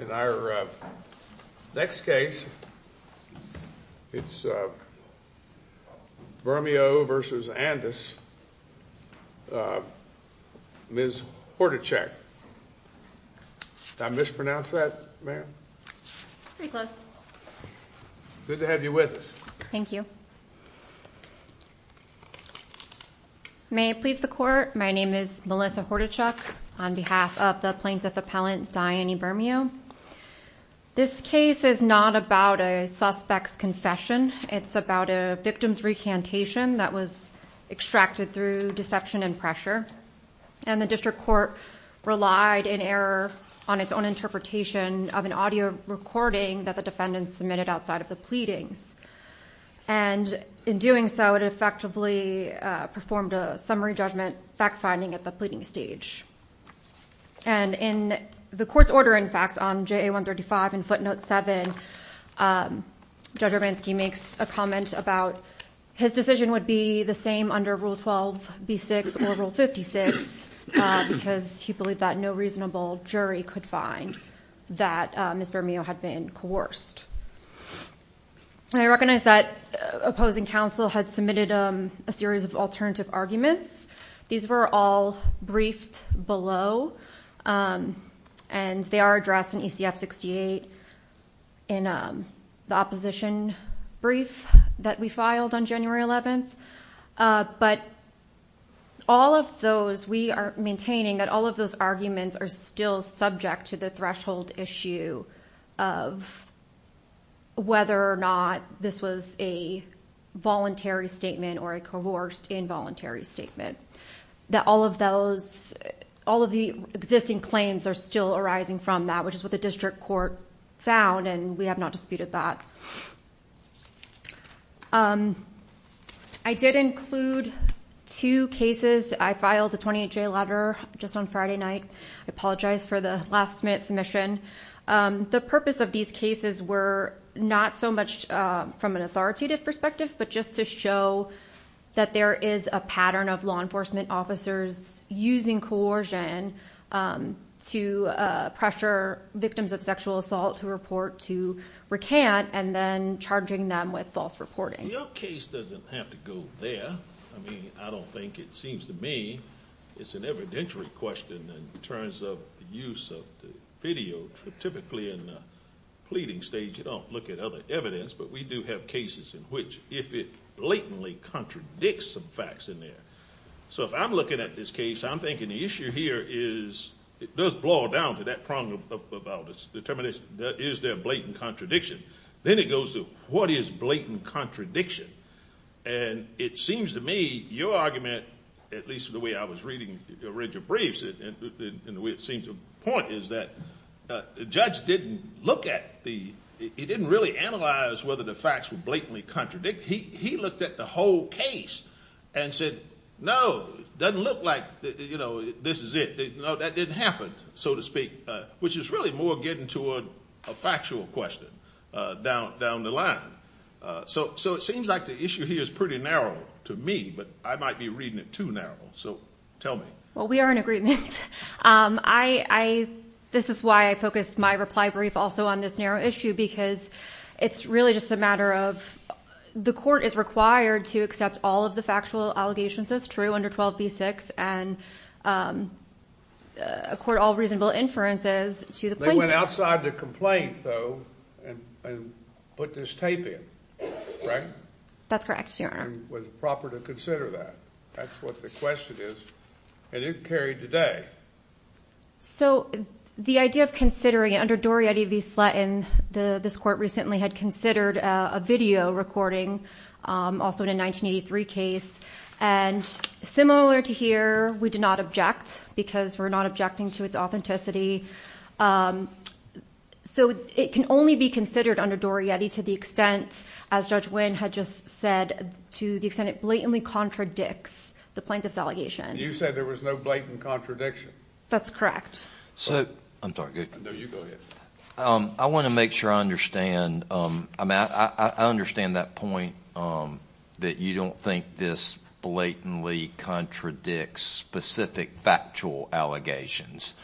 In our next case, it's Bermeo v. Andis, Ms. Hordachuk. Did I mispronounce that, ma'am? Pretty close. Good to have you with us. Thank you. May it please the court, my name is Melissa Hordachuk on behalf of the plaintiff appellant, Dyanie Bermeo. This case is not about a suspect's confession. It's about a victim's recantation that was extracted through deception and pressure. And the district court relied in error on its own interpretation of an audio recording that the defendants submitted outside of the pleadings. And in doing so, it effectively performed a summary judgment fact-finding at the pleading stage. And in the court's order, in fact, on JA 135 and footnote 7, Judge Urbanski makes a comment about his decision would be the same under Rule 12, B6 or Rule 56 because he believed that no reasonable jury could find that Ms. Bermeo had been coerced. I recognize that opposing counsel had submitted a series of alternative arguments. These were all briefed below and they are addressed in ECF 68 in the opposition brief that we filed on January 11th. But all of those, we are maintaining that all of those arguments are still subject to the threshold issue of whether or not this was a voluntary statement or a coerced involuntary statement. That all of those, all of the existing claims are still arising from that, which is what the district court found and we have not disputed that. I did include two cases. I filed a 28-day letter just on Friday night. I apologize for the last minute submission. The purpose of these cases were not so much from an authoritative perspective, but just to show that there is a pattern of law enforcement officers using coercion to pressure victims of sexual assault who report to recant and then charging them with false reporting. Your case doesn't have to go there. I mean, I don't think, it seems to me, it's an evidentiary question in terms of the use of the video. Typically in the pleading stage, you don't look at other evidence, but we do have cases in which if it blatantly contradicts some facts in there. So if I'm looking at this case, I'm thinking the issue here is, it does boil down to that problem about determination, is there a blatant contradiction? Then it goes to, what is blatant contradiction? And it seems to me, your argument, at least the way I was reading your briefs and the way it seemed to point, is that the judge didn't look at the, he didn't really analyze whether the facts were blatantly contradicting. He looked at the whole case and said, no, it doesn't look like this is it. No, that didn't happen, so to speak, which is really more getting toward a factual question down the line. So it seems like the issue here is pretty narrow to me, but I might be reading it too narrow. So tell me. Well, we are in agreement. This is why I focused my reply brief also on this narrow issue, because it's really just a matter of, the court is required to accept all of the factual allegations as true under 12b-6 and accord all reasonable inferences to the plaintiff. They went outside the complaint, though, and put this tape in, right? That's correct, Your Honor. It was proper to consider that. That's what the question is, and it carried today. So the idea of considering it, under Dorietty v. Slatton, this court recently had considered a video recording, also in a 1983 case, and similar to here, we do not object, because we're not objecting to its authenticity. So it can only be considered under Dorietty to the extent, as Judge Wynn had just said, to the extent it blatantly contradicts the plaintiff's allegations. You said there was no blatant contradiction? That's correct. I'm sorry. No, you go ahead. I want to make sure I understand. I understand that point, that you don't think this blatantly contradicts specific factual allegations.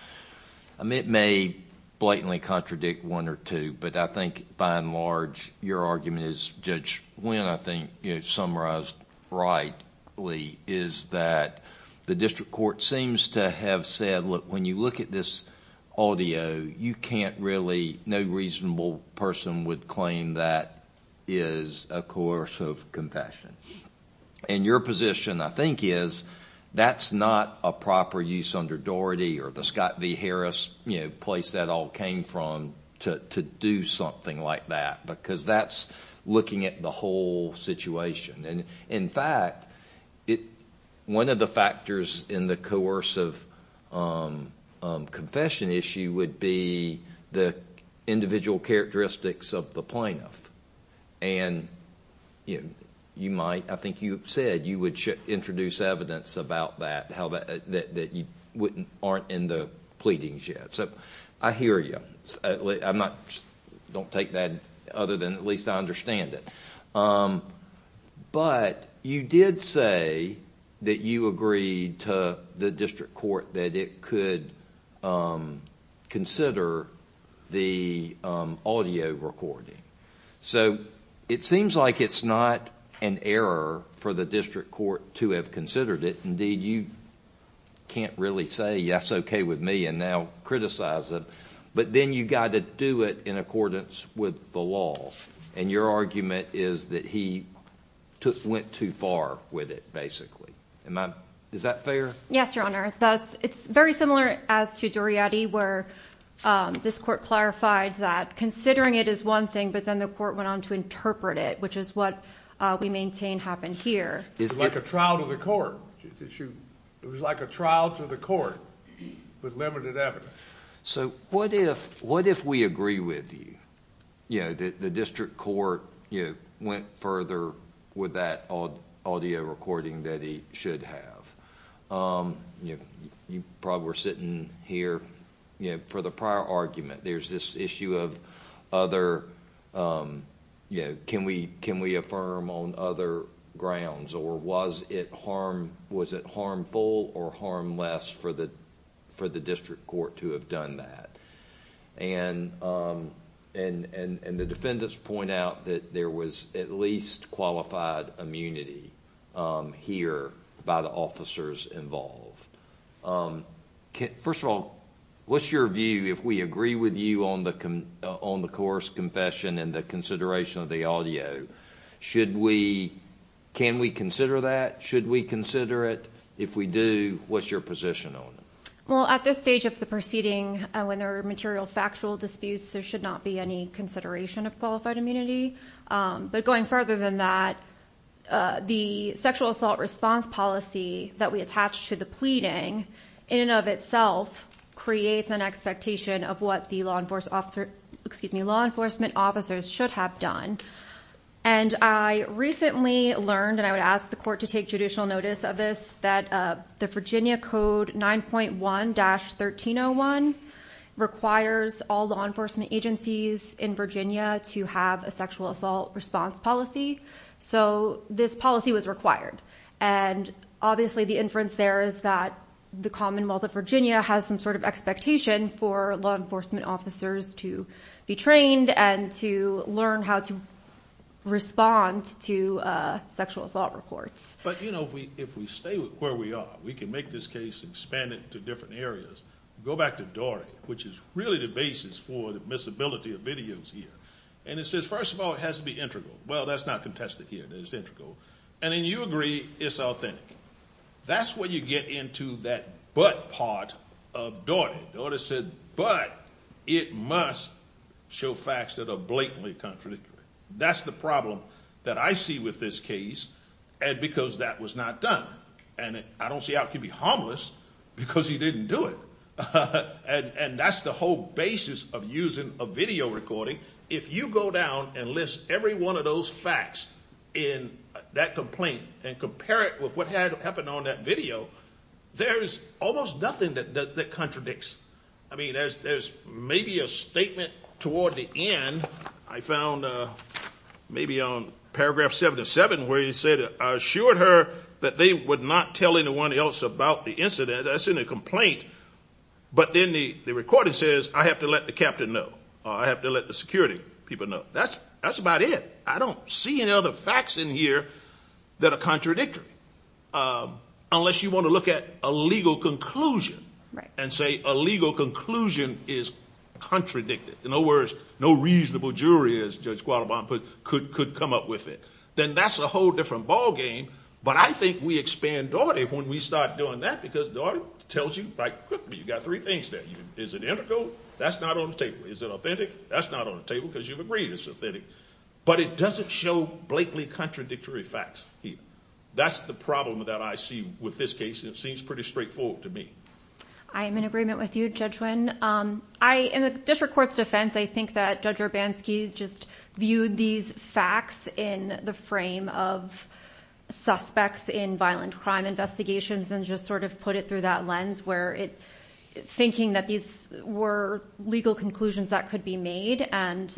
It may blatantly contradict one or two, but I think, by and large, your argument is, Judge Wynn, I think, summarized rightly, is that the district court seems to have said, look, when you look at this audio, you can't really, no reasonable person would claim that is a coercive confession. And your position, I think, is that's not a proper use under Dorietty or the Scott v. Harris place that all came from to do something like that, because that's looking at the whole situation. In fact, one of the factors in the coercive confession issue would be the individual characteristics of the plaintiff. And you might, I think you said, you would introduce evidence about that, that aren't in the pleadings yet. So I hear you. I don't take that other than at least I understand it. But you did say that you agreed to the district court that it could consider the audio recording. So it seems like it's not an error for the district court to have considered it. Indeed, you can't really say, yes, okay with me and now criticize it. But then you got to do it in accordance with the law. And your argument is that he went too far with it, basically. Is that fair? Yes, Your Honor. It's very similar as to Dorietty where this court clarified that considering it is one thing, but then the court went on to interpret it, which is what we maintain happened here. It's like a trial to the court. It was like a trial to the court with limited evidence. So what if we agree with you? The district court went further with that audio recording that he should have. You probably were sitting here for the prior argument. There's this issue of can we affirm on other grounds? Or was it harmful or harmless for the district court to have done that? And the defendants point out that there was at least qualified immunity here by the officers involved. First of all, what's your view if we agree with you on the coerced confession and the consideration of the audio? Can we consider that? Should we consider it? If we do, what's your position on it? Well, at this stage of the proceeding, when there are material factual disputes, there should not be any consideration of qualified immunity. But going further than that, the sexual assault response policy that we attach to the pleading in and of itself creates an expectation of what the law enforcement officers should have done. And I recently learned, and I would ask the court to take judicial notice of this, that the Virginia Code 9.1-1301 requires all law enforcement agencies in Virginia to have a sexual assault response policy. So this policy was required. And obviously the inference there is that the Commonwealth of Virginia has some sort of expectation for law enforcement officers to be trained and to learn how to respond to sexual assault reports. But you know, if we stay where we are, we can make this case expanded to different areas. Go back to Dory, which is really the basis for the miscibility of videos here. And it says, first of all, it has to be integral. Well, that's not contested here. It's integral. And then you agree it's authentic. That's where you get into that but part of Dory. Dory said, but it must show facts that are blatantly contradictory. That's the problem that I see with this case. And because that was not done. And I don't see how it can be harmless because he didn't do it. And that's the whole basis of using a video recording. If you go down and list every one of those facts in that complaint and compare it with what happened on that video, there's almost nothing that contradicts. I mean, there's maybe a statement toward the end. I found maybe on paragraph 77 where he said, I assured her that they would not tell anyone else about the incident. That's in the complaint. But then the recording says, I have to let the captain know. I have to let the security people know. That's about it. I don't see any other facts in here that are contradictory. Unless you want to look at a legal conclusion and say a legal conclusion is contradicted. In other words, no reasonable jury, as Judge Quattlebaum put it, could come up with it. Then that's a whole different ballgame. But I think we expand Dory when we start doing that because Dory tells you, you've got three things there. Is it integral? That's not on the table. Is it authentic? That's not on the table because you've agreed it's authentic. But it doesn't show blatantly contradictory facts here. That's the problem that I see with this case. It seems pretty straightforward to me. I am in agreement with you, Judge Wynn. In the district court's defense, I think that Judge Urbanski just viewed these facts in the frame of suspects in violent crime investigations and just sort of put it through that lens, thinking that these were legal conclusions that could be made.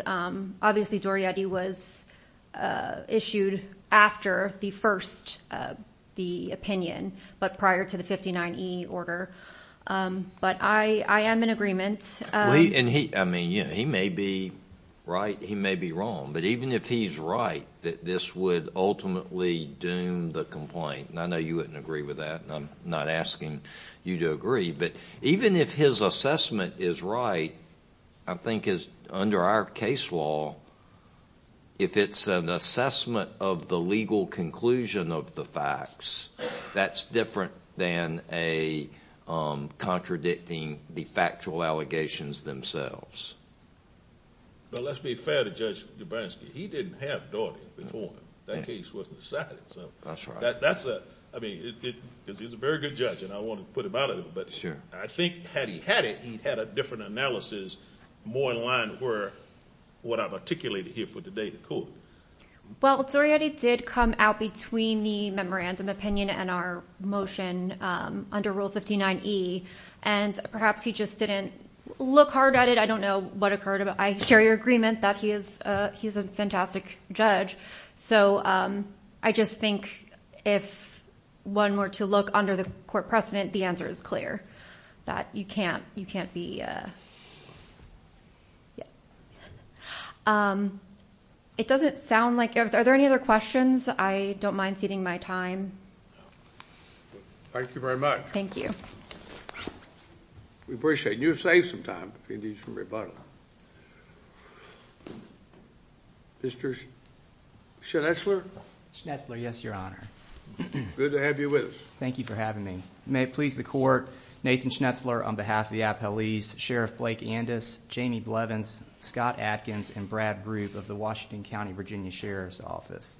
Obviously, Dorietti was issued after the first opinion, but prior to the 59E order. But I am in agreement. He may be right. He may be wrong. But even if he's right, that this would ultimately doom the complaint, and I know you wouldn't agree with that, and I'm not asking you to agree, but even if his assessment is right, I think under our case law, if it's an assessment of the legal conclusion of the facts, that's different than contradicting the factual allegations themselves. But let's be fair to Judge Urbanski. He didn't have Daugherty before. That case wasn't decided. That's right. I mean, he's a very good judge, and I want to put him out of it, but I think had he had it, he'd had a different analysis, more in line with what I've articulated here for the day in court. Well, Dorietti did come out between the memorandum opinion and our motion under Rule 59E, and perhaps he just didn't look hard at it. I don't know what occurred, but I share your agreement that he's a fantastic judge. So I just think if one were to look under the court precedent, the answer is clear, that you can't be... It doesn't sound like... Are there any other questions? I don't mind ceding my time. Thank you very much. Thank you. We appreciate it. You save some time if you need some rebuttal. Mr. Schnetzler? Schnetzler, yes, Your Honor. Good to have you with us. Thank you for having me. May it please the court, Nathan Schnetzler on behalf of the appellees, Sheriff Blake Andes, Jamie Blevins, Scott Adkins, and Brad Group of the Washington County Virginia Sheriff's Office.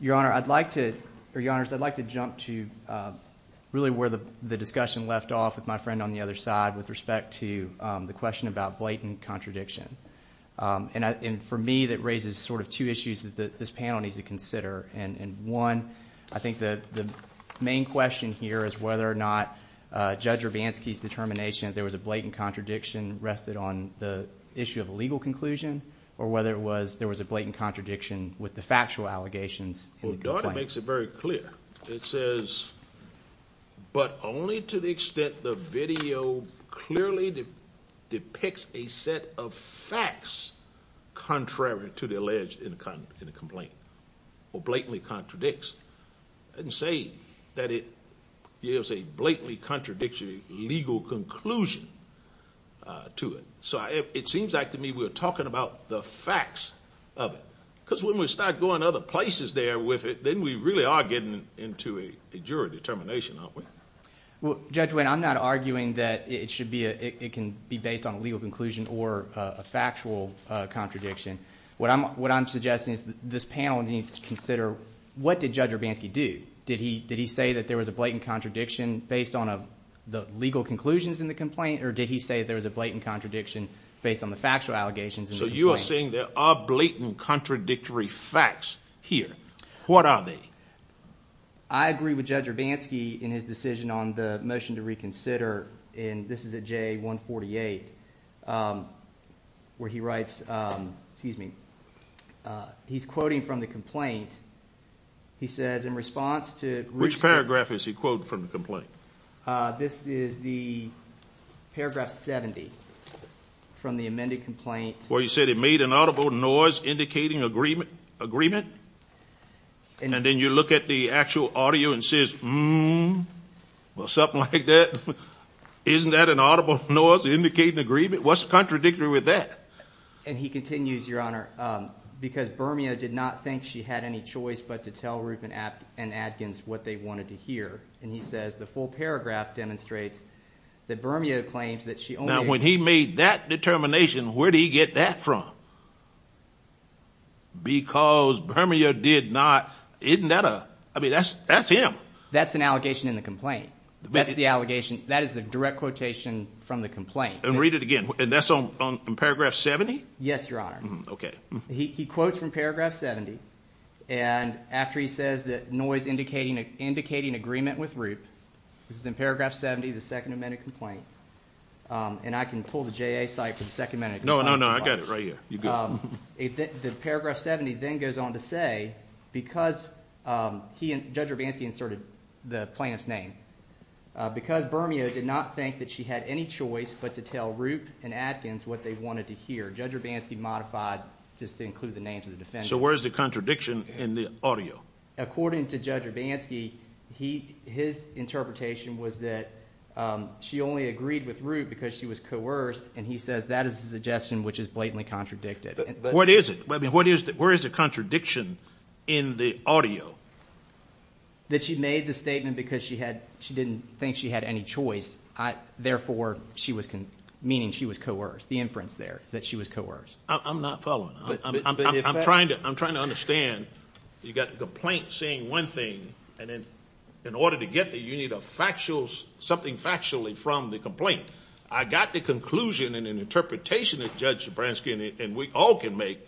Your Honor, I'd like to... Your Honors, I'd like to jump to really where the discussion left off with my friend on the other side with respect to the question about blatant contradiction. And for me, that raises sort of two issues that this panel needs to consider. And one, I think the main question here is whether or not Judge Urbanski's determination that there was a blatant contradiction rested on the issue of a legal conclusion, or whether there was a blatant contradiction with the factual allegations in the complaint. Well, Daughter makes it very clear. It says, but only to the extent the video clearly depicts a set of facts contrary to the alleged in the complaint, or blatantly contradicts. It doesn't say that it yields a blatantly contradictory legal conclusion to it. So it seems like to me we're talking about the facts of it, because when we start going other places there with it, then we really are getting into a jury determination, aren't we? Well, Judge Wayne, I'm not arguing that it can be based on a legal conclusion or a factual contradiction. What I'm suggesting is this panel needs to consider what did Judge Urbanski do? Did he say that there was a blatant contradiction based on the legal conclusions in the allegation, based on the factual allegations in the complaint? So you are saying there are blatant contradictory facts here. What are they? I agree with Judge Urbanski in his decision on the motion to reconsider, and this is at J148, where he writes, excuse me, he's quoting from the complaint. He says in response to... Which paragraph is he quoting from the complaint? This is the paragraph 70 from the amended complaint. Where he said it made an audible noise indicating agreement, and then you look at the actual audio and it says, well, something like that. Isn't that an audible noise indicating agreement? What's contradictory with that? And he continues, Your Honor, because Bermia did not think she had any choice but to tell Now, when he made that determination, where did he get that from? Because Bermia did not, isn't that a, I mean, that's him. That's an allegation in the complaint. That is the direct quotation from the complaint. And read it again. And that's in paragraph 70? Yes, Your Honor. Okay. He quotes from paragraph 70, and after he says that noise indicating agreement with Roop, this is in paragraph 70 of the second amended complaint, and I can pull the JA site for the second amended complaint. No, no, no, I got it right here. You go. The paragraph 70 then goes on to say, because he and Judge Urbanski inserted the plaintiff's name, because Bermia did not think that she had any choice but to tell Roop and Adkins what they wanted to hear, Judge Urbanski modified just to include the names of the defendants. So where is the contradiction in the audio? According to Judge Urbanski, his interpretation was that she only agreed with Roop because she was coerced, and he says that is a suggestion which is blatantly contradicted. What is it? Where is the contradiction in the audio? That she made the statement because she didn't think she had any choice, therefore, meaning she was coerced, the inference there is that she was coerced. I'm not following. I'm trying to understand. You've got the complaint saying one thing, and in order to get there, you need something factually from the complaint. I got the conclusion and an interpretation that Judge Urbanski and we all can make,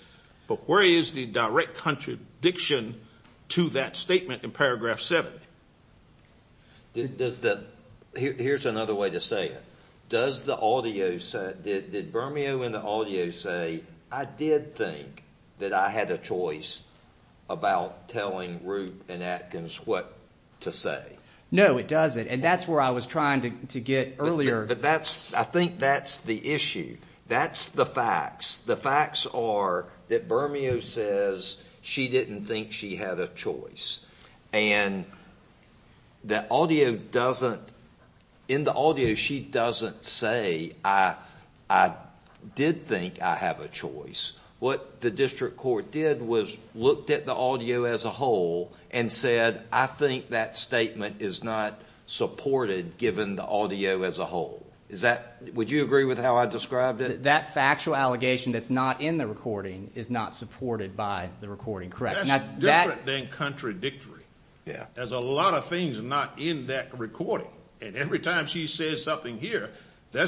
but where is the direct contradiction to that statement in paragraph 70? Here's another way to say it. Did Bermeo in the audio say, I did think that I had a choice about telling Roop and Adkins what to say? No, it doesn't, and that's where I was trying to get earlier. I think that's the issue. That's the facts. The facts are that Bermeo says she didn't think she had a choice, and in the audio, she doesn't say, I did think I have a choice. What the district court did was looked at the audio as a whole and said, I think that statement is not supported given the audio as a whole. Would you agree with how I described it? That factual allegation that's not in the recording is not supported by the recording, correct? That's different than contradictory. There's a lot of things not in that recording, and every time she says something here, the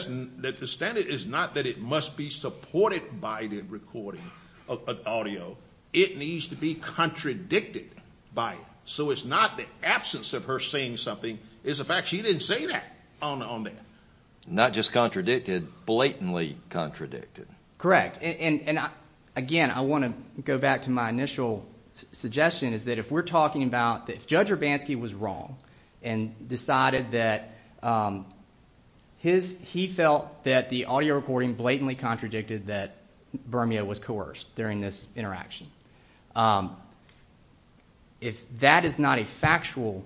standard is not that it must be supported by the recording of audio. It needs to be contradicted by it, so it's not the absence of her saying something is a fact. She didn't say that on that. Not just contradicted, blatantly contradicted. Correct. Again, I want to go back to my initial suggestion is that if we're talking about if Judge Urbanski was wrong and decided that he felt that the audio recording blatantly contradicted that Bermeo was coerced during this interaction, if that is not a factual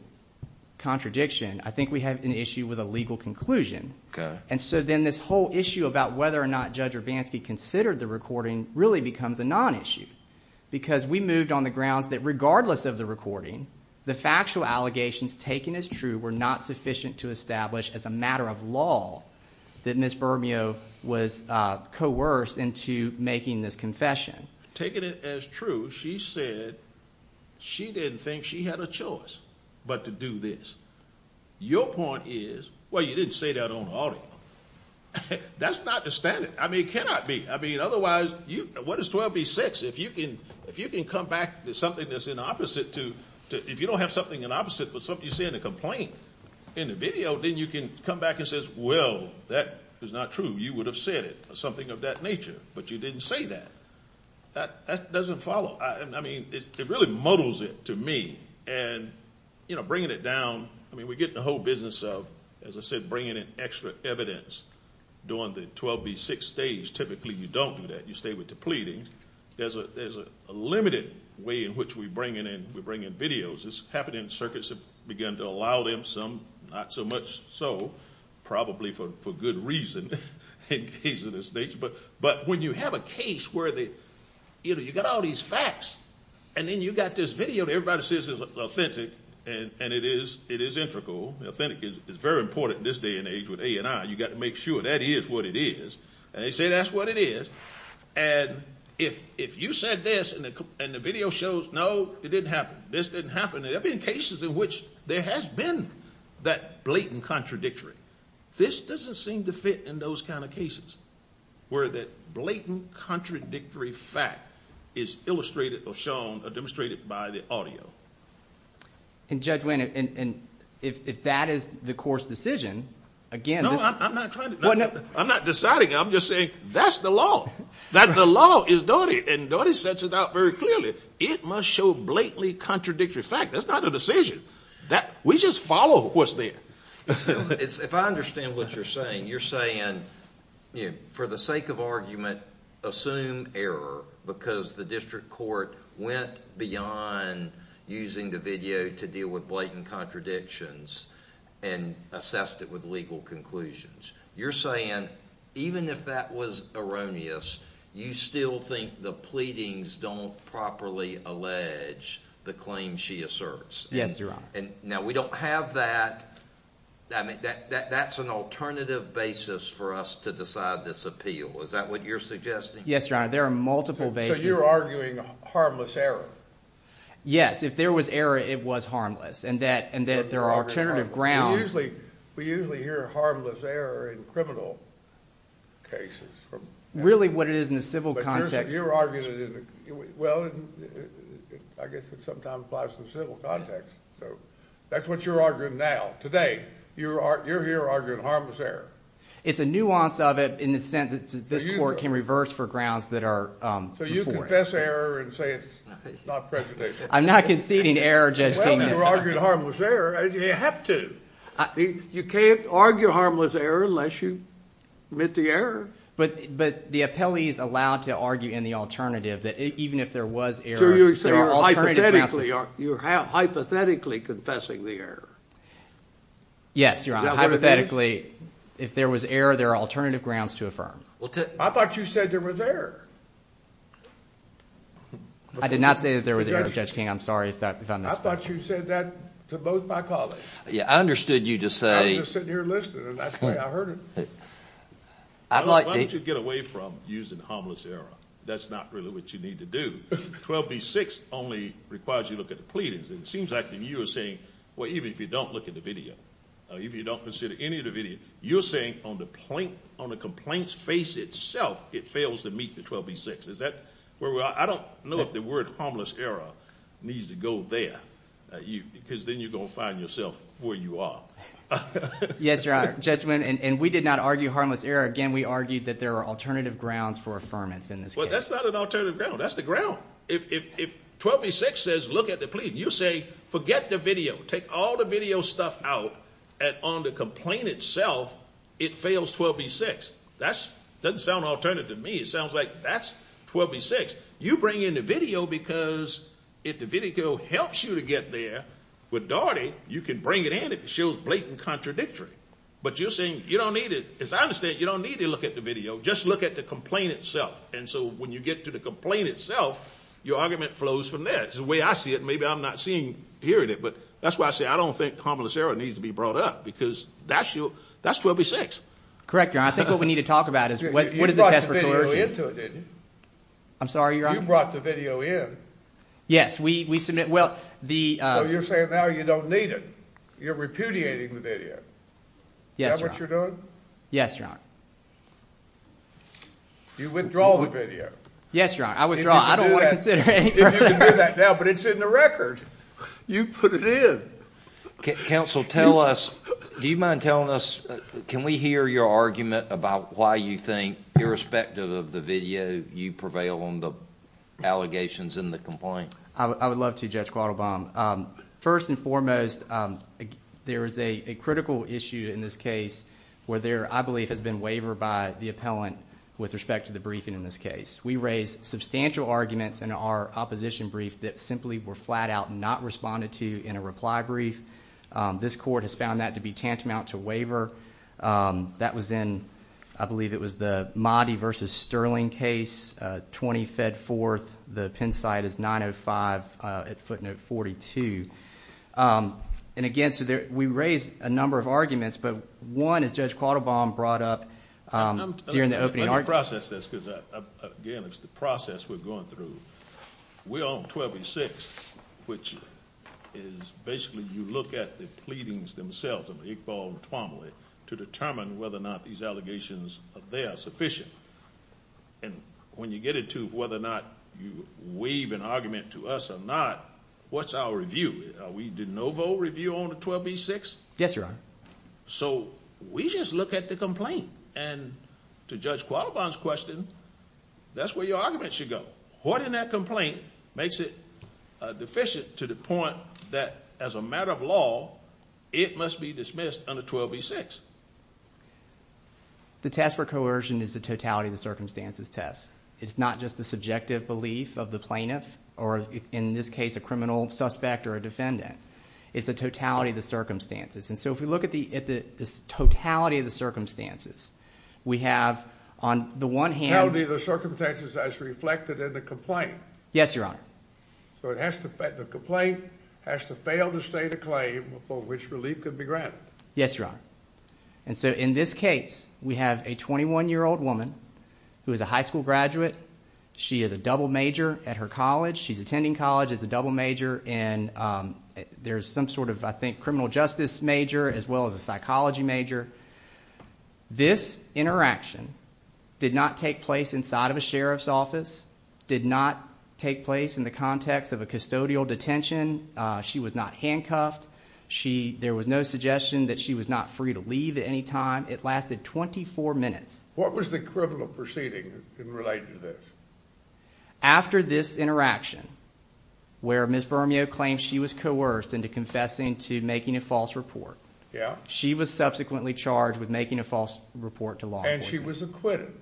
contradiction, I think we have an issue with a legal conclusion. Then this whole issue about whether or not Judge Urbanski considered the recording really becomes a non-issue because we moved on the grounds that regardless of the recording, the factual allegations taken as true were not sufficient to establish as a matter of law that Ms. Bermeo was coerced into making this confession. Taken it as true, she said she didn't think she had a choice but to do this. Your point is, well, you didn't say that on audio. That's not the standard. I mean, it cannot be. I mean, otherwise, what is 12b-6? If you can come back to something that's in opposite to, if you don't have something in opposite but something you say in a complaint in the video, then you can come back and say, well, that is not true. You would have said it, something of that nature, but you didn't say that. That doesn't follow. Well, I mean, it really muddles it to me. And, you know, bringing it down, I mean, we get in the whole business of, as I said, bringing in extra evidence during the 12b-6 stage. Typically you don't do that. You stay with the pleadings. There's a limited way in which we bring in videos. It's happening in circuits that have begun to allow them some, not so much so, probably for good reason in cases of this nature. But when you have a case where you've got all these facts, and then you've got this video and everybody says it's authentic, and it is integral, authentic is very important in this day and age with A&I. You've got to make sure that is what it is. And they say that's what it is. And if you said this and the video shows, no, it didn't happen. This didn't happen. There have been cases in which there has been that blatant contradictory. This doesn't seem to fit in those kind of cases where that blatant contradictory fact is illustrated or shown or demonstrated by the audio. And, Judge Wayne, if that is the court's decision, again, this is... No, I'm not trying to... I'm not deciding. I'm just saying that's the law. That the law is Doty, and Doty sets it out very clearly. It must show blatantly contradictory fact. That's not a decision. We just follow what's there. If I understand what you're saying, you're saying for the sake of argument, assume error because the district court went beyond using the video to deal with blatant contradictions and assessed it with legal conclusions. You're saying even if that was erroneous, you still think the pleadings don't properly allege the claim she asserts. Yes, Your Honor. Now, we don't have that. That's an alternative basis for us to decide this appeal. Is that what you're suggesting? Yes, Your Honor. There are multiple bases. So you're arguing harmless error? Yes. If there was error, it was harmless, and that there are alternative grounds. We usually hear harmless error in criminal cases. Really what it is in the civil context. But you're arguing it in the... That's what you're arguing now, today. You're here arguing harmless error. It's a nuance of it in the sense that this court can reverse for grounds that are... So you confess error and say it's not presidential. I'm not conceding error, Judge Kagan. Well, you're arguing harmless error. You have to. You can't argue harmless error unless you admit the error. But the appellee is allowed to argue in the alternative, that even if there was error, there are alternative grounds. You're hypothetically confessing the error. Yes, Your Honor. Hypothetically, if there was error, there are alternative grounds to affirm. I thought you said there was error. I did not say that there was error, Judge King. I'm sorry if I'm... I thought you said that to both my colleagues. Yeah, I understood you to say... I was just sitting here listening, and that's the way I heard it. Why don't you get away from using harmless error? That's not really what you need to do. 12b-6 only requires you to look at the pleadings. It seems like you are saying, well, even if you don't look at the video, even if you don't consider any of the video, you're saying on the complaint's face itself it fails to meet the 12b-6. Is that where we are? I don't know if the word harmless error needs to go there, because then you're going to find yourself where you are. Yes, Your Honor. Judgment, and we did not argue harmless error. Again, we argued that there are alternative grounds for affirmance in this case. Well, that's not an alternative ground. That's the ground. If 12b-6 says look at the pleading, you say forget the video, take all the video stuff out, and on the complaint itself it fails 12b-6. That doesn't sound alternative to me. It sounds like that's 12b-6. You bring in the video because if the video helps you to get there, with Daugherty, you can bring it in if it shows blatant contradictory. But you're saying you don't need it. As I understand it, you don't need to look at the video. Just look at the complaint itself, and so when you get to the complaint itself, your argument flows from there. It's the way I see it, and maybe I'm not seeing here in it, but that's why I say I don't think harmless error needs to be brought up, because that's 12b-6. Correct, Your Honor. I think what we need to talk about is what is the test for coercion. You brought the video into it, didn't you? I'm sorry, Your Honor? You brought the video in. Yes, we submit the— So you're saying now you don't need it. You're repudiating the video. Yes, Your Honor. Is that what you're doing? Yes, Your Honor. You withdraw the video. Yes, Your Honor. I withdraw. I don't want to consider it any further. If you can do that now, but it's in the record. You put it in. Counsel, tell us, do you mind telling us, can we hear your argument about why you think, irrespective of the video, you prevail on the allegations in the complaint? I would love to, Judge Quattlebaum. First and foremost, there is a critical issue in this case where there, I believe, has been waiver by the appellant with respect to the briefing in this case. We raised substantial arguments in our opposition brief that simply were flat out not responded to in a reply brief. This court has found that to be tantamount to waiver. That was in, I believe, it was the Mahdi v. Sterling case, 20 Fedforth, the pen site is 905 at footnote 42. Again, we raised a number of arguments, but one is Judge Quattlebaum brought up during the opening argument. Let me process this because, again, it's the process we're going through. We're on 1286, which is basically you look at the pleadings themselves of Iqbal and Twomley to determine whether or not these allegations of theirs are sufficient. When you get into whether or not you weave an argument to us or not, what's our review? Are we de novo review on the 1286? Yes, Your Honor. So we just look at the complaint, and to Judge Quattlebaum's question, that's where your argument should go. What in that complaint makes it deficient to the point that, as a matter of law, it must be dismissed under 1286? The test for coercion is the totality of the circumstances test. It's not just the subjective belief of the plaintiff, or in this case a criminal suspect or a defendant. It's the totality of the circumstances. And so if we look at the totality of the circumstances, we have on the one hand... Totality of the circumstances as reflected in the complaint. Yes, Your Honor. So the complaint has to fail to state a claim for which relief could be granted. Yes, Your Honor. And so in this case, we have a 21-year-old woman who is a high school graduate. She is a double major at her college. She's attending college as a double major, and there's some sort of, I think, criminal justice major as well as a psychology major. This interaction did not take place inside of a sheriff's office, did not take place in the context of a custodial detention. She was not handcuffed. There was no suggestion that she was not free to leave at any time. It lasted 24 minutes. What was the criminal proceeding related to this? After this interaction, where Ms. Bermeo claimed she was coerced into confessing to making a false report, she was subsequently charged with making a false report to law enforcement. And she was acquitted?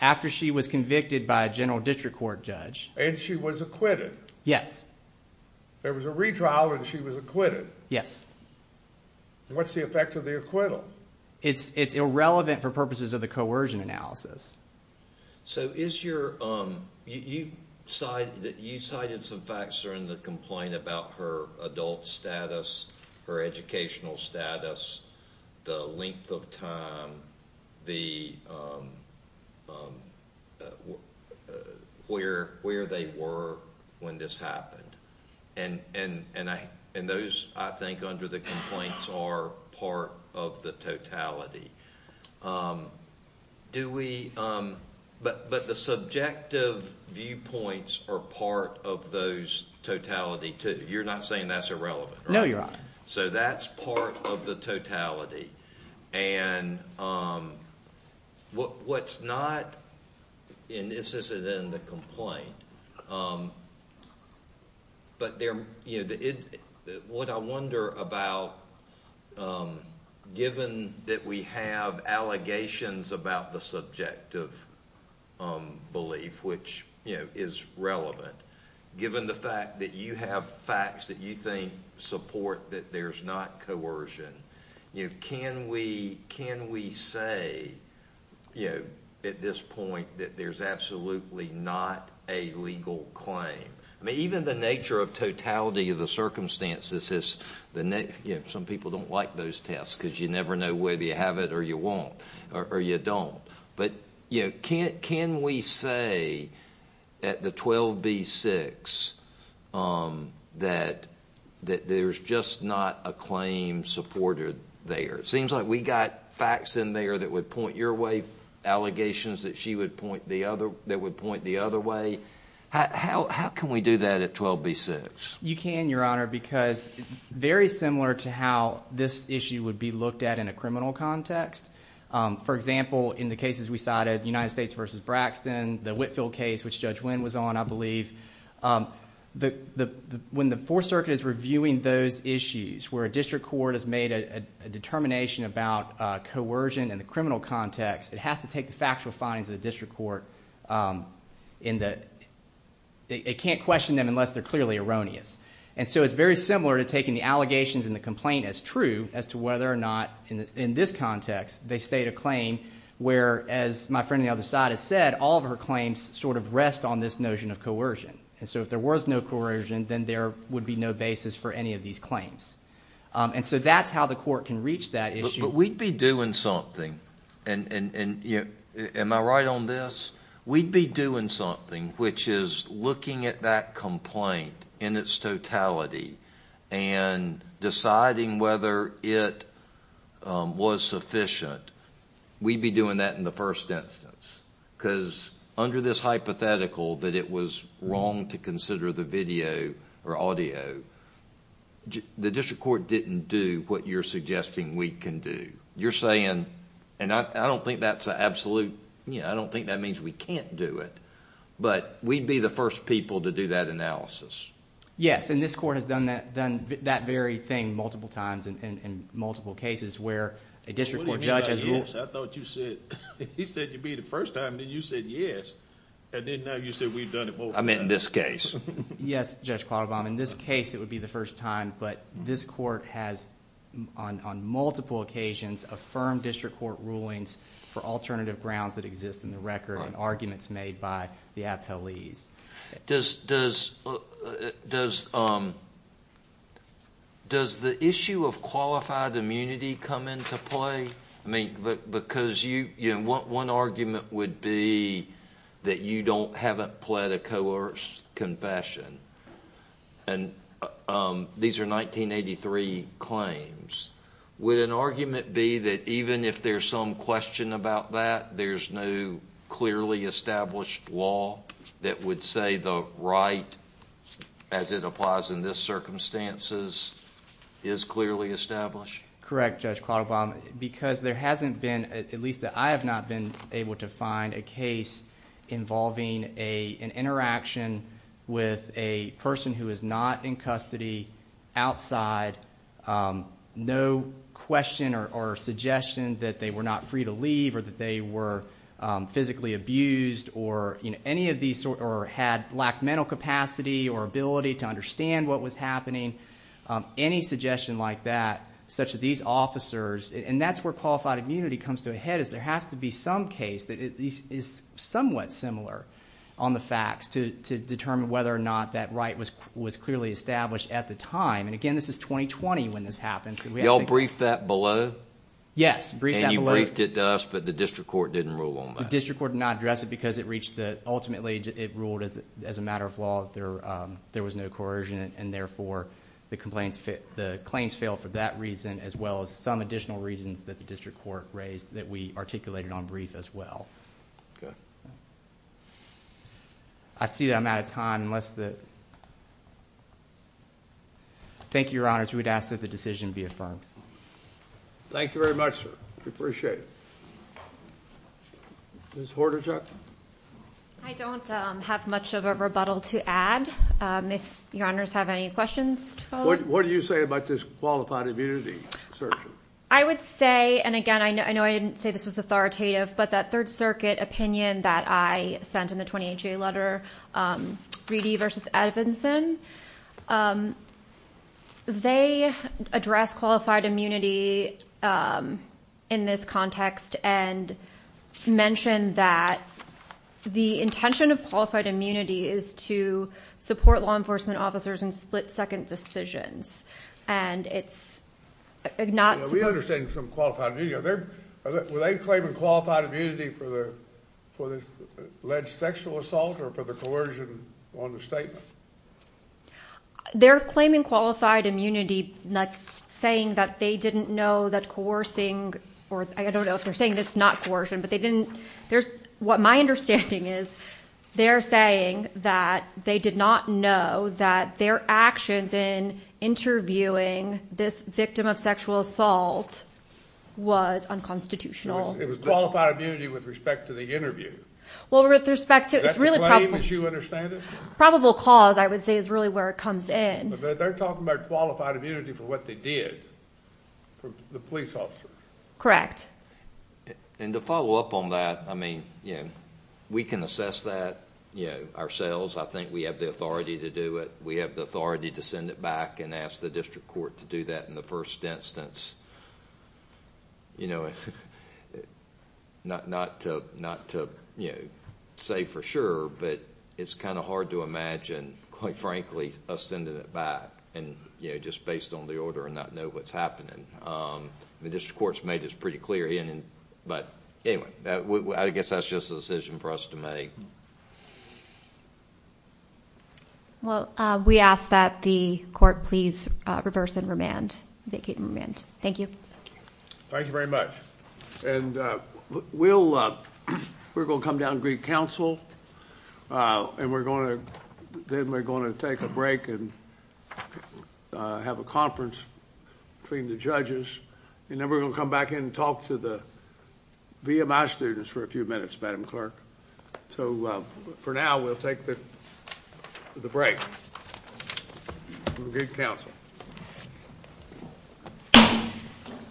After she was convicted by a general district court judge. And she was acquitted? Yes. There was a retrial and she was acquitted? What's the effect of the acquittal? It's irrelevant for purposes of the coercion analysis. So is your, you cited some facts during the complaint about her adult status, her educational status, the length of time, where they were when this happened. And those, I think, under the complaints are part of the totality. But the subjective viewpoints are part of those totality too. You're not saying that's irrelevant? No, Your Honor. So that's part of the totality. And what's not, and this isn't in the complaint, but what I wonder about, given that we have allegations about the subjective belief, which is relevant, given the fact that you have facts that you think support that there's not coercion, can we say, at this point, that there's absolutely not a legal claim? Even the nature of totality of the circumstances, some people don't like those tests because you never know whether you have it or you won't, or you don't. But can we say, at the 12B-6, that there's just not a claim supported there? It seems like we got facts in there that would point your way, allegations that she would point the other way. How can we do that at 12B-6? You can, Your Honor, because very similar to how this issue would be looked at in a criminal context. For example, in the cases we cited, United States v. Braxton, the Whitfield case, which Judge Wynn was on, I believe, when the Fourth Circuit is reviewing those issues where a district court has made a determination about coercion in the criminal context, it has to take the factual findings of the district court in that it can't question them unless they're clearly erroneous. And so it's very similar to taking the allegations in the complaint as true, as to whether or not, in this context, they state a claim where, as my friend on the other side has said, all of her claims sort of rest on this notion of coercion. And so if there was no coercion, then there would be no basis for any of these claims. And so that's how the court can reach that issue. But we'd be doing something, and am I right on this? We'd be doing something, which is looking at that complaint in its totality and deciding whether it was sufficient. We'd be doing that in the first instance because under this hypothetical that it was wrong to consider the video or audio, the district court didn't do what you're suggesting we can do. You're saying, and I don't think that's an absolute... I don't think that means we can't do it, but we'd be the first people to do that analysis. Yes, and this court has done that very thing multiple times in multiple cases where a district court judge... I meant in this case. Yes, Judge Quattlebaum, in this case it would be the first time, but this court has, on multiple occasions, affirmed district court rulings for alternative grounds that exist in the record and arguments made by the appellees. Does the issue of qualified immunity come into play? One argument would be that you haven't pled a coerced confession. These are 1983 claims. Would an argument be that even if there's some question about that, there's no clearly established law that would say the right, as it applies in this circumstances, is clearly established? Correct, Judge Quattlebaum, because there hasn't been, at least that I have not been able to find, a case involving an interaction with a person who is not in custody, outside, no question or suggestion that they were not free to leave or that they were physically abused or had lack of mental capacity or ability to understand what was happening. Any suggestion like that, such as these officers, and that's where qualified immunity comes to a head, is there has to be some case that is somewhat similar on the facts to determine whether or not that right was clearly established at the time. And again, this is 2020 when this happened. Did you all brief that below? Yes, briefed that below. And you briefed it to us, but the district court didn't rule on that? The district court did not address it because it reached the, ultimately it ruled as a matter of law that there was no coercion in it, and therefore the claims failed for that reason, as well as some additional reasons that the district court raised that we articulated on brief as well. Okay. I see that I'm out of time. Thank you, Your Honors. We would ask that the decision be affirmed. Thank you very much, sir. We appreciate it. Ms. Hordachuk? I don't have much of a rebuttal to add. If Your Honors have any questions. What do you say about this qualified immunity? I would say, and again, I know I didn't say this was authoritative, but that Third Circuit opinion that I sent in the 28-J letter, Reedy versus Edvinson, they addressed qualified immunity in this context and mentioned that the intention of qualified immunity is to support law enforcement officers in split-second decisions, and it's not supposed to be. We understand some qualified immunity. Were they claiming qualified immunity for the alleged sexual assault or for the coercion on the statement? They're claiming qualified immunity, like saying that they didn't know that coercing, or I don't know if they're saying it's not coercion, but they didn't. My understanding is they're saying that they did not know that their actions in interviewing this victim of sexual assault was unconstitutional. It was qualified immunity with respect to the interview. Is that the claim, as you understand it? Probable cause, I would say, is really where it comes in. But they're talking about qualified immunity for what they did, the police officers. Correct. To follow up on that, we can assess that ourselves. I think we have the authority to do it. We have the authority to send it back and ask the district court to do that in the first instance. Not to say for sure, but it's hard to imagine, quite frankly, us sending it back just based on the order and not know what's happening. The district court's made this pretty clear. But anyway, I guess that's just a decision for us to make. Well, we ask that the court please reverse and remand, vacate and remand. Thank you. Thank you very much. We're going to come down and greet counsel, and then we're going to take a break and have a conference between the judges. And then we're going to come back in and talk to the VMI students for a few minutes, Madam Clerk. So for now, we'll take the break. We'll greet counsel.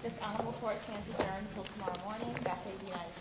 This honorable court stands adjourned until tomorrow morning. Vacate the United States in this honorable court.